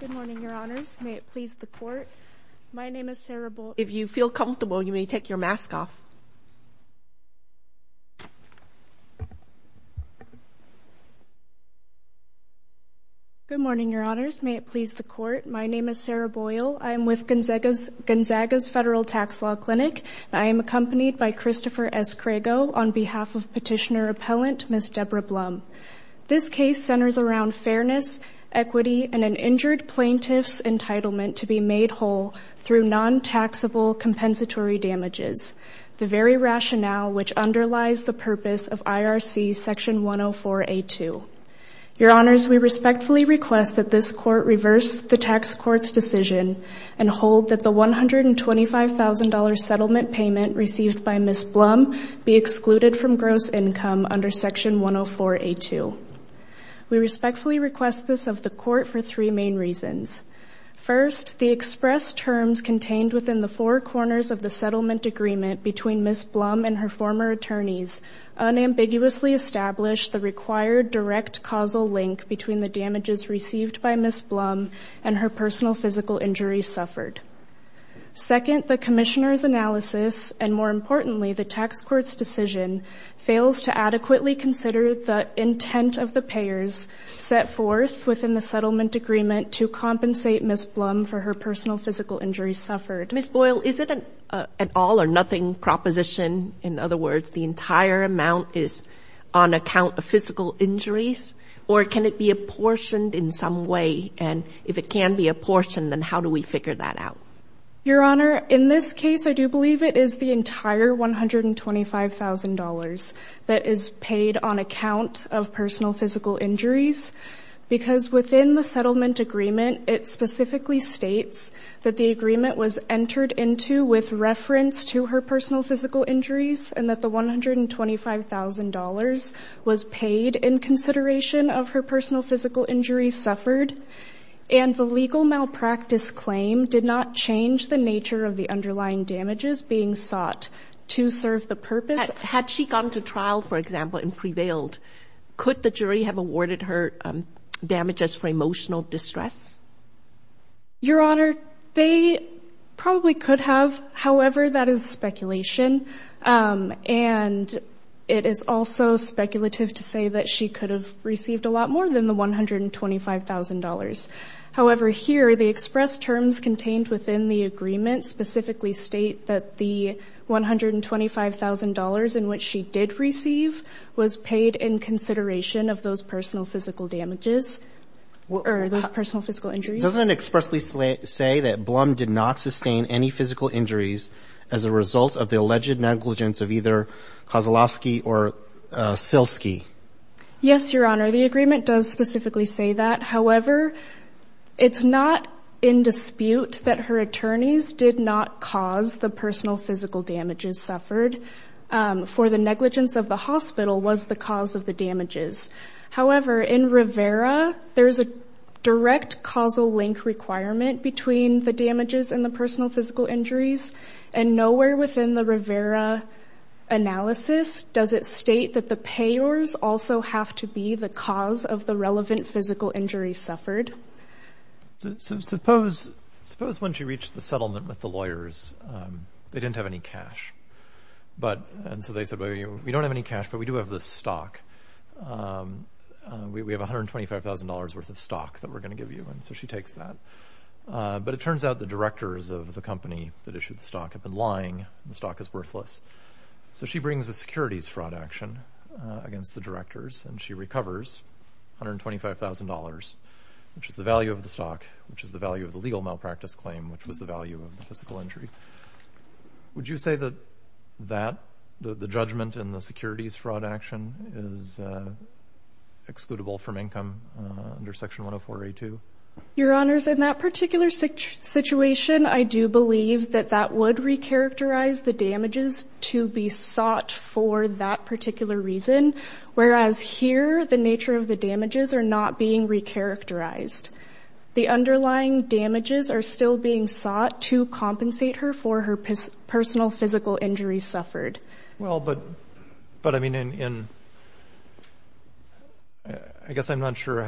Good morning, your honors. May it please the court. My name is Sarah Boyle. If you feel comfortable, you may take your mask off. Good morning, your honors. May it please the court. My name is Sarah Boyle. I am with Gonzaga's Federal Tax Law Clinic. I am accompanied by Christopher S. Crago on behalf of petitioner appellant, Ms. Debra Blum. This case centers around fairness, equity, and an injured plaintiff's entitlement to be made whole through non-taxable compensatory damages, the very rationale which underlies the purpose of IRC section 104A2. Your honors, we respectfully request that this court reverse the tax court's decision and hold that the $125,000 settlement payment received by Ms. We respectfully request this of the court for three main reasons. First, the express terms contained within the four corners of the settlement agreement between Ms. Blum and her former attorneys unambiguously established the required direct causal link between the damages received by Ms. Blum and her personal physical injuries suffered. Second, the commissioner's analysis, and more importantly, the tax court's decision, fails to adequately consider the intent of the payers set forth within the settlement agreement to compensate Ms. Blum for her personal physical injuries suffered. Ms. Boyle, is it an all or nothing proposition? In other words, the entire amount is on account of physical injuries? Or can it be apportioned in some way? And if it can be apportioned, then how do we figure that out? Your honor, in this case, I do believe it is the entire $125,000 that is paid on account of personal physical injuries because within the settlement agreement, it specifically states that the agreement was entered into with reference to her personal physical injuries and that the $125,000 was paid in consideration of her personal physical injuries suffered. And the legal malpractice claim did not change the nature of the underlying damages being sought to serve the purpose. Had she gone to trial, for example, and prevailed, could the jury have awarded her damages for emotional distress? Your honor, they probably could have. However, that is speculation. And it is also speculative to say that she could have received a lot more than the $125,000. However, here, the express terms contained within the agreement specifically state that the $125,000 in which she did receive was paid in consideration of those personal physical damages or those personal physical injuries. Doesn't it expressly say that Blum did not sustain any physical injuries as a result of the alleged negligence of either Kozlowski or Silski? Yes, your honor. The agreement does specifically say that. However, it's not in dispute that her attorneys did not cause the personal physical damages suffered. For the negligence of the hospital was the cause of the damages. However, in Rivera, there is a direct causal link requirement between the damages and the personal physical injuries. And nowhere within the Rivera analysis does it state that the payors also have to be the cause of the relevant physical injuries suffered. Suppose when she reached the settlement with the lawyers, they didn't have any cash. And so they said, we don't have any cash, but we do have this stock. We have $125,000 worth of stock that we're going to give you. And so she takes that. But it turns out the directors of the company that issued the stock have been lying. The stock is worthless. So she brings a securities fraud action against the directors and she recovers $125,000. Which is the value of the stock, which is the value of the legal malpractice claim, which was the value of the physical injury. Would you say that the judgment in the securities fraud action is excludable from income under Section 104A2? Your honors, in that particular situation, I do believe that that would recharacterize the damages to be sought for that particular reason. Whereas here, the nature of the damages are not being recharacterized. The underlying damages are still being sought to compensate her for her personal physical injuries suffered. Well, but I mean, I guess I'm not sure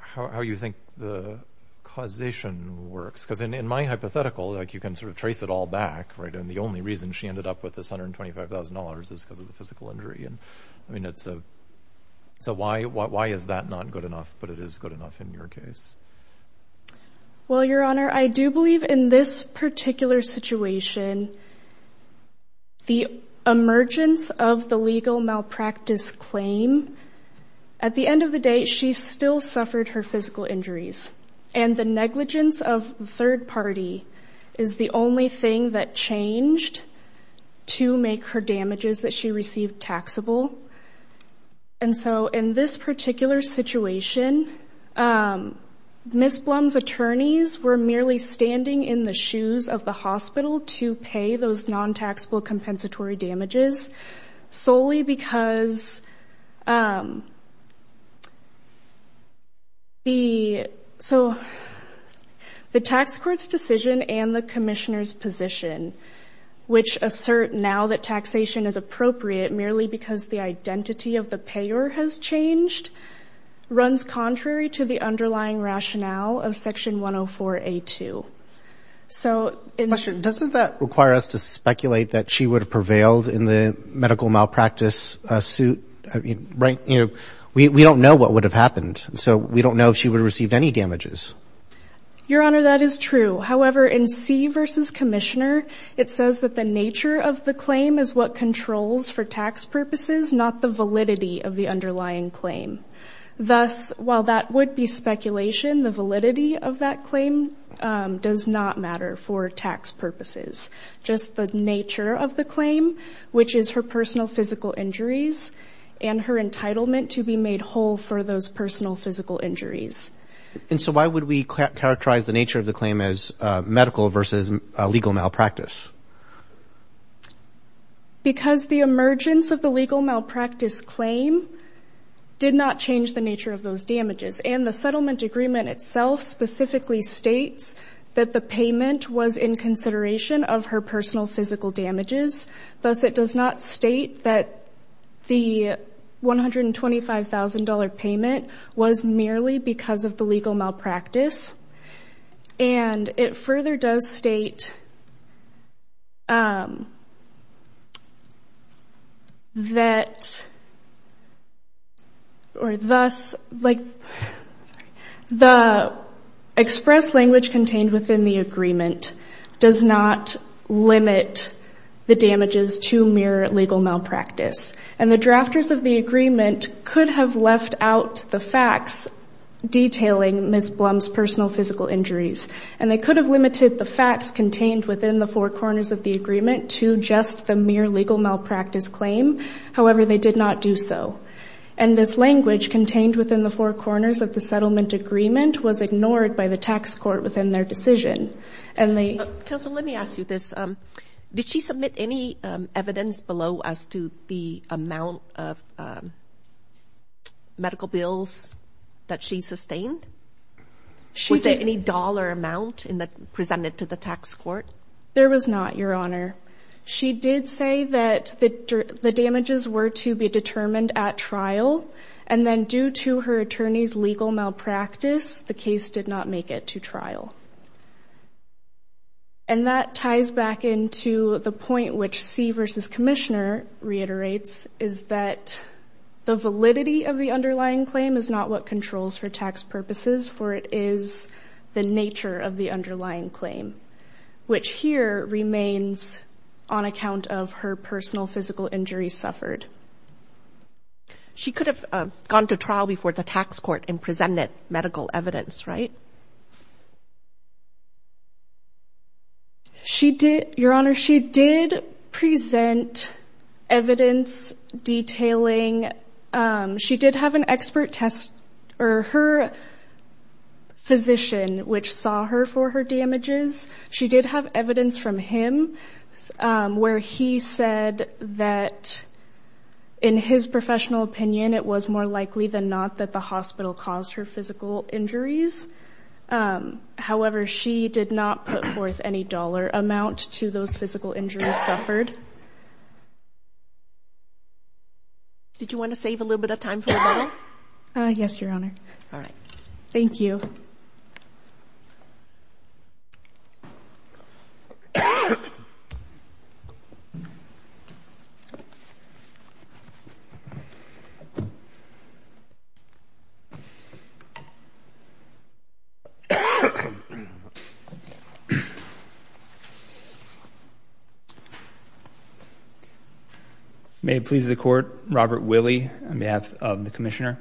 how you think the causation works. Because in my hypothetical, like you can sort of trace it all back. And the only reason she ended up with this $125,000 is because of the physical injury. And I mean, so why is that not good enough? But it is good enough in your case. Well, your honor, I do believe in this particular situation, the emergence of the legal malpractice claim. At the end of the day, she still suffered her physical injuries. And the negligence of the third party is the only thing that changed to make her damages that she received taxable. And so in this particular situation, Ms. Blum's attorneys were merely standing in the shoes of the hospital to pay those non-taxable compensatory damages. Solely because the tax court's decision and the commissioner's position, which assert now that taxation is appropriate merely because the identity of the payer has changed, runs contrary to the underlying rationale of Section 104A2. Question, doesn't that require us to speculate that she would have prevailed in the medical malpractice suit? We don't know what would have happened. So we don't know if she would have received any damages. Your honor, that is true. However, in C v. Commissioner, it says that the nature of the claim is what controls for tax purposes, not the validity of the underlying claim. Thus, while that would be speculation, the validity of that claim does not matter for tax purposes, just the nature of the claim, which is her personal physical injuries and her entitlement to be made whole for those personal physical injuries. And so why would we characterize the nature of the claim as medical versus legal malpractice? Because the emergence of the legal malpractice claim did not change the nature of those damages. And the settlement agreement itself specifically states that the payment was in consideration of her personal physical damages. Thus, it does not state that the $125,000 payment was merely because of the legal malpractice. And it further does state that or thus like the express language contained within the agreement does not limit the damages to mere legal malpractice. And the drafters of the agreement could have left out the facts detailing Ms. Blum's personal physical injuries. And they could have limited the facts contained within the four corners of the agreement to just the mere legal malpractice claim. However, they did not do so. And this language contained within the four corners of the settlement agreement was ignored by the tax court within their decision. Counsel, let me ask you this. Did she submit any evidence below as to the amount of medical bills that she sustained? Was there any dollar amount presented to the tax court? There was not, Your Honor. She did say that the damages were to be determined at trial. And then due to her attorney's legal malpractice, the case did not make it to trial. And that ties back into the point which C v. Commissioner reiterates is that the validity of the underlying claim is not what controls her tax purposes, for it is the nature of the underlying claim, which here remains on account of her personal physical injuries suffered. She could have gone to trial before the tax court and presented medical evidence, right? She did, Your Honor. She did present evidence detailing. She did have an expert test or her physician, which saw her for her damages. She did have evidence from him where he said that in his professional opinion, it was more likely than not that the hospital caused her physical injuries. However, she did not put forth any dollar amount to those physical injuries suffered. Did you want to save a little bit of time? Yes, Your Honor. All right. Thank you. Thank you. May it please the Court, Robert Willey on behalf of the Commissioner.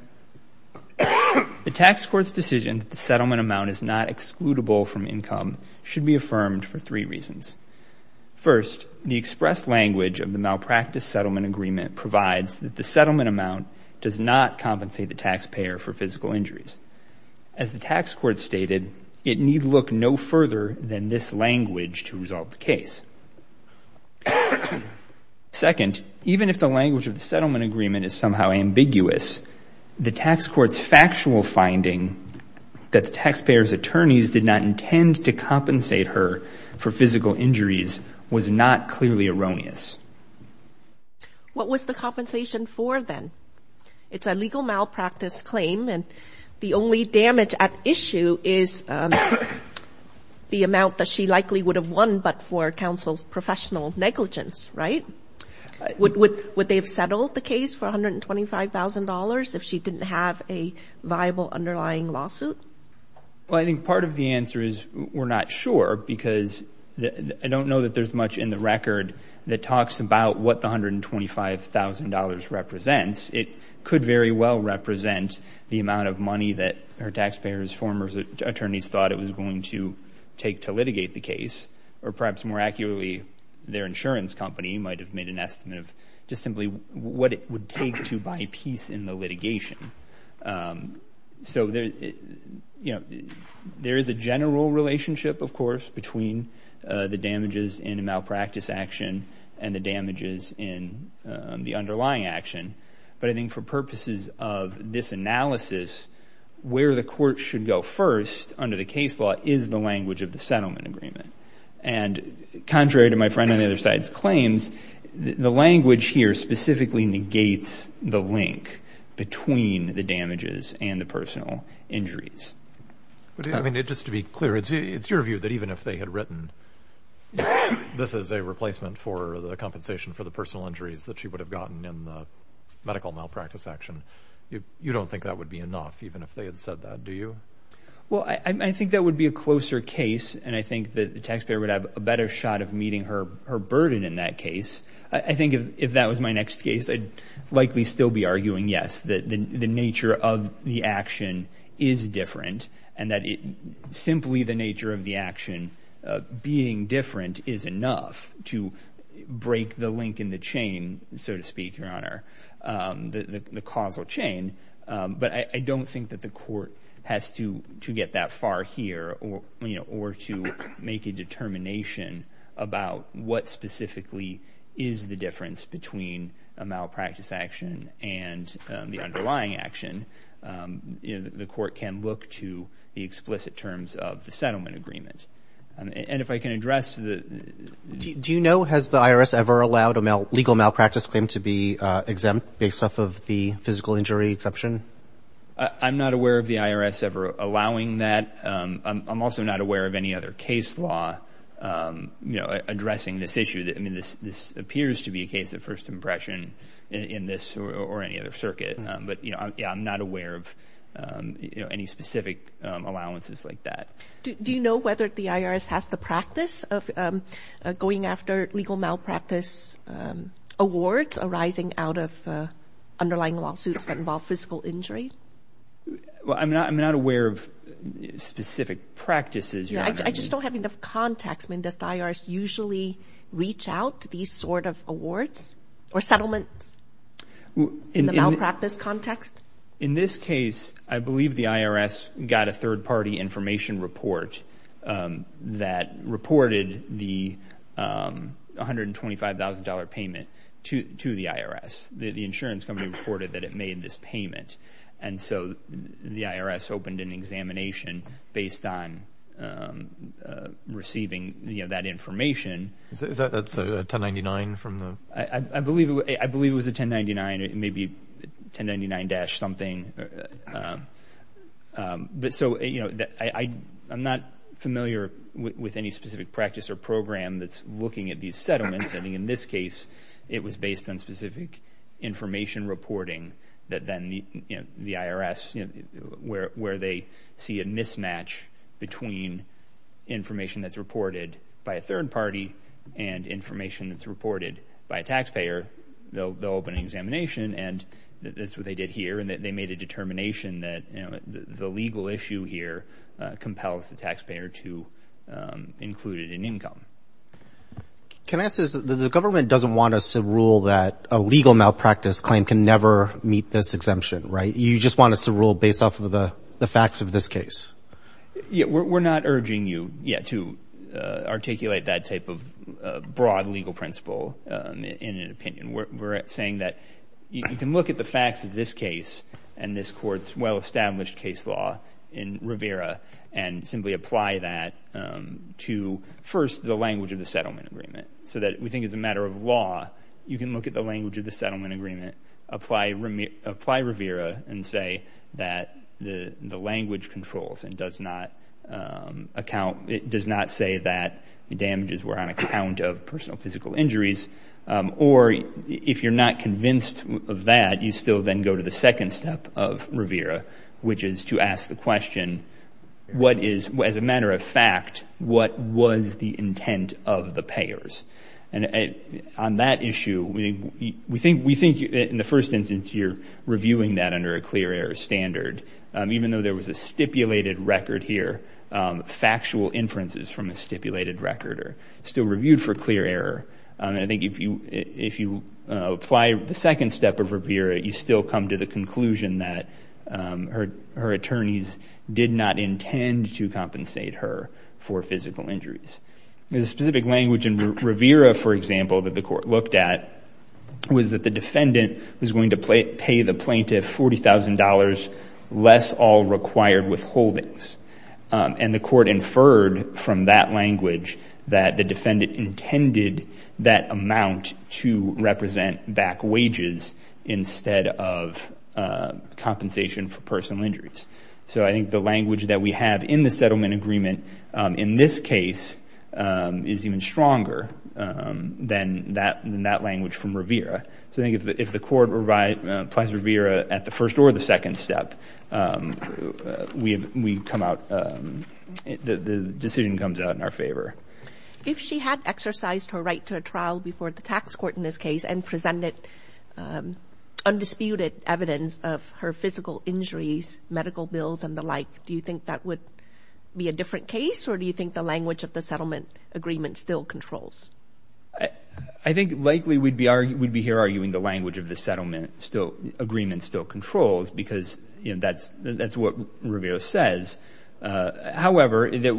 The tax court's decision that the settlement amount is not excludable from income should be affirmed for three reasons. First, the expressed language of the malpractice settlement agreement provides that the settlement amount does not compensate the taxpayer for physical injuries. As the tax court stated, it need look no further than this language to resolve the case. Second, even if the language of the settlement agreement is somehow ambiguous, the tax court's factual finding that the taxpayer's attorneys did not intend to compensate her for physical injuries was not clearly erroneous. What was the compensation for then? It's a legal malpractice claim, and the only damage at issue is the amount that she likely would have won, but for counsel's professional negligence, right? Would they have settled the case for $125,000 if she didn't have a viable underlying lawsuit? Well, I think part of the answer is we're not sure because I don't know that there's much in the record that talks about what the $125,000 represents. It could very well represent the amount of money that her taxpayers, former attorneys, thought it was going to take to litigate the case, or perhaps more accurately, their insurance company might have made an estimate of just simply what it would take to buy peace in the litigation. So there is a general relationship, of course, between the damages in a malpractice action and the damages in the underlying action, but I think for purposes of this analysis, where the court should go first under the case law is the language of the settlement agreement. And contrary to my friend on the other side's claims, the language here specifically negates the link between the damages and the personal injuries. I mean, just to be clear, it's your view that even if they had written this is a replacement for the compensation for the personal injuries that she would have gotten in the medical malpractice action, you don't think that would be enough, even if they had said that, do you? Well, I think that would be a closer case, and I think that the taxpayer would have a better shot of meeting her burden in that case. I think if that was my next case, I'd likely still be arguing, yes, that the nature of the action is different and that simply the nature of the action being different is enough to break the link in the chain, so to speak, Your Honor, the causal chain. But I don't think that the court has to get that far here or to make a determination about what specifically is the difference between a malpractice action and the underlying action. The court can look to the explicit terms of the settlement agreement. And if I can address the – Do you know, has the IRS ever allowed a legal malpractice claim to be exempt based off of the physical injury exception? I'm not aware of the IRS ever allowing that. I'm also not aware of any other case law addressing this issue. I mean, this appears to be a case of first impression in this or any other circuit. But, yeah, I'm not aware of any specific allowances like that. Do you know whether the IRS has the practice of going after legal malpractice awards arising out of underlying lawsuits that involve physical injury? Well, I'm not aware of specific practices, Your Honor. I just don't have enough context. When does the IRS usually reach out to these sort of awards or settlements in the malpractice context? In this case, I believe the IRS got a third-party information report that reported the $125,000 payment to the IRS. The insurance company reported that it made this payment. And so the IRS opened an examination based on receiving that information. Is that a 1099 from the? I believe it was a 1099, maybe 1099-something. So I'm not familiar with any specific practice or program that's looking at these settlements. I mean, in this case, it was based on specific information reporting that then the IRS, where they see a mismatch between information that's reported by a third party and information that's reported by a taxpayer, they'll open an examination, and that's what they did here, and they made a determination that the legal issue here compels the taxpayer to include it in income. Can I ask this? The government doesn't want us to rule that a legal malpractice claim can never meet this exemption, right? You just want us to rule based off of the facts of this case? We're not urging you yet to articulate that type of broad legal principle in an opinion. We're saying that you can look at the facts of this case and this Court's well-established case law in Rivera and simply apply that to, first, the language of the settlement agreement so that we think as a matter of law you can look at the language of the settlement agreement, apply Rivera, and say that the language controls and does not say that the damages were on account of personal physical injuries, or if you're not convinced of that, you still then go to the second step of Rivera, which is to ask the question, as a matter of fact, what was the intent of the payers? And on that issue, we think in the first instance you're reviewing that under a clear error standard. Even though there was a stipulated record here, factual inferences from a stipulated record are still reviewed for clear error. I think if you apply the second step of Rivera, you still come to the conclusion that her attorneys did not intend to compensate her for physical injuries. The specific language in Rivera, for example, that the Court looked at was that the defendant was going to pay the plaintiff $40,000 less all required withholdings. And the Court inferred from that language that the defendant intended that amount to represent back wages instead of compensation for personal injuries. So I think the language that we have in the settlement agreement in this case is even stronger than that language from Rivera. So I think if the Court applies Rivera at the first or the second step, the decision comes out in our favor. If she had exercised her right to a trial before the tax court in this case and presented undisputed evidence of her physical injuries, medical bills, and the like, do you think that would be a different case, or do you think the language of the settlement agreement still controls? I think likely we'd be here arguing the language of the settlement agreement still controls because that's what Rivera says. However, that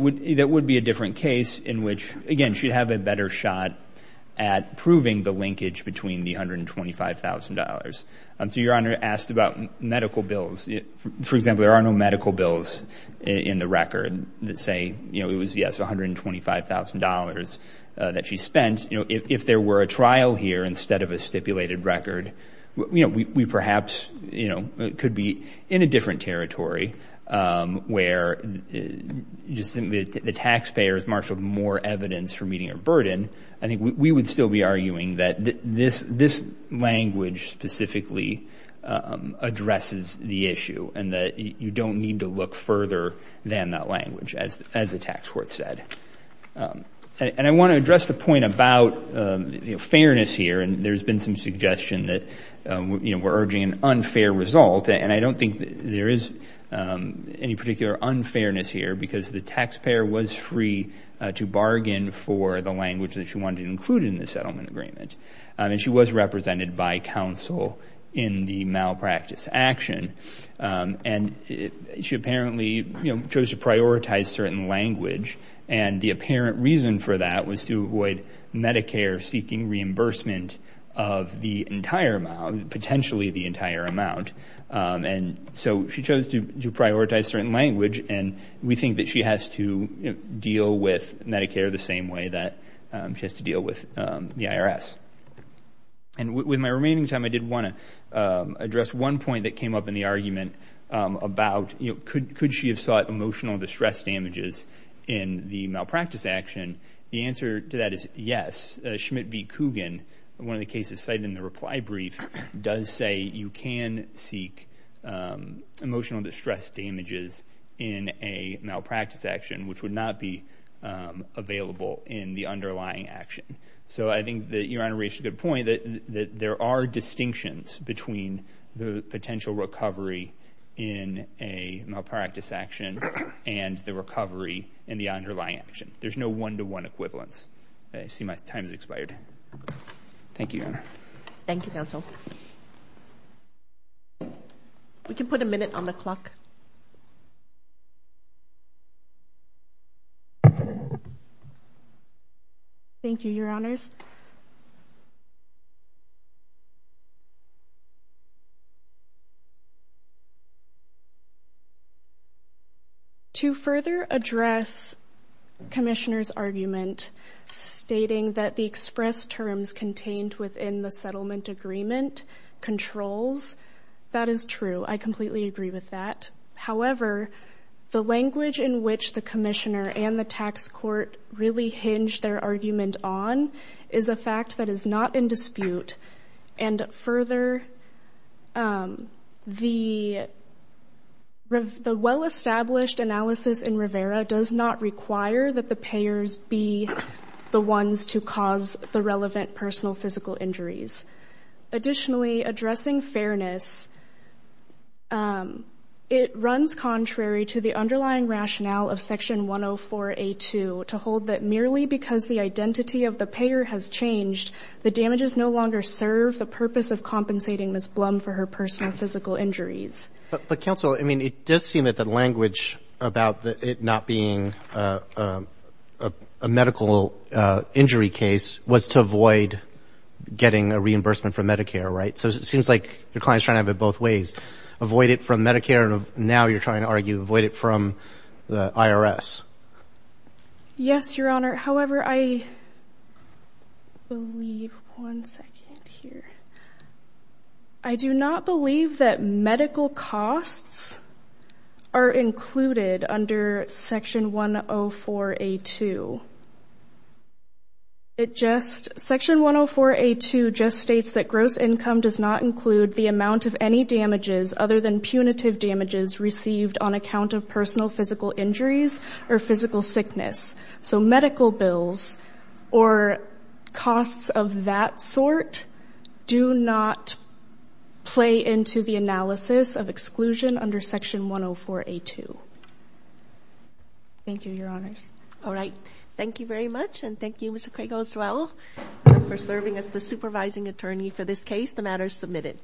would be a different case in which, again, she'd have a better shot at proving the linkage between the $125,000. So Your Honor asked about medical bills. For example, there are no medical bills in the record that say it was, yes, $125,000 that she spent. If there were a trial here instead of a stipulated record, we perhaps could be in a different territory where the taxpayers marshaled more evidence for meeting a burden. I think we would still be arguing that this language specifically addresses the issue and that you don't need to look further than that language, as the tax court said. And I want to address the point about fairness here, and there's been some suggestion that we're urging an unfair result, and I don't think there is any particular unfairness here because the taxpayer was free to bargain for the language that she wanted to include in the settlement agreement. And she was represented by counsel in the malpractice action. And she apparently chose to prioritize certain language, and the apparent reason for that was to avoid Medicare seeking reimbursement of the entire amount, potentially the entire amount. And so she chose to prioritize certain language, and we think that she has to deal with Medicare the same way that she has to deal with the IRS. And with my remaining time, I did want to address one point that came up in the argument about, you know, could she have sought emotional distress damages in the malpractice action? The answer to that is yes. Schmidt v. Coogan, one of the cases cited in the reply brief, does say you can seek emotional distress damages in a malpractice action, which would not be available in the underlying action. So I think that Your Honor raised a good point, that there are distinctions between the potential recovery in a malpractice action and the recovery in the underlying action. There's no one-to-one equivalence. I see my time has expired. Thank you, Your Honor. Thank you, counsel. We can put a minute on the clock. Thank you, Your Honors. To further address Commissioner's argument stating that the express terms contained within the settlement agreement controls, that is true. I completely agree with that. However, the language in which the Commissioner and the tax court really hinged their argument on is a fact that is not in dispute. And further, the well-established analysis in Rivera does not require that the payers be the ones to cause the relevant personal physical injuries. Additionally, addressing fairness, it runs contrary to the underlying rationale of Section 104A2 to hold that merely because the identity of the payer has changed, the damages no longer serve the purpose of compensating Ms. Blum for her personal physical injuries. But, counsel, I mean, it does seem that the language about it not being a medical injury case was to avoid getting a reimbursement from Medicare, right? So it seems like your client is trying to have it both ways, avoid it from Medicare, and now you're trying to argue avoid it from the IRS. Yes, Your Honor. However, I do not believe that medical costs are included under Section 104A2. Section 104A2 just states that gross income does not include the amount of any damages other than punitive damages received on account of personal physical injuries or physical sickness. So medical bills or costs of that sort do not play into the analysis of exclusion under Section 104A2. Thank you, Your Honors. All right. Thank you very much, and thank you, Mr. Craig-Oswell, for serving as the supervising attorney for this case. The matter is submitted.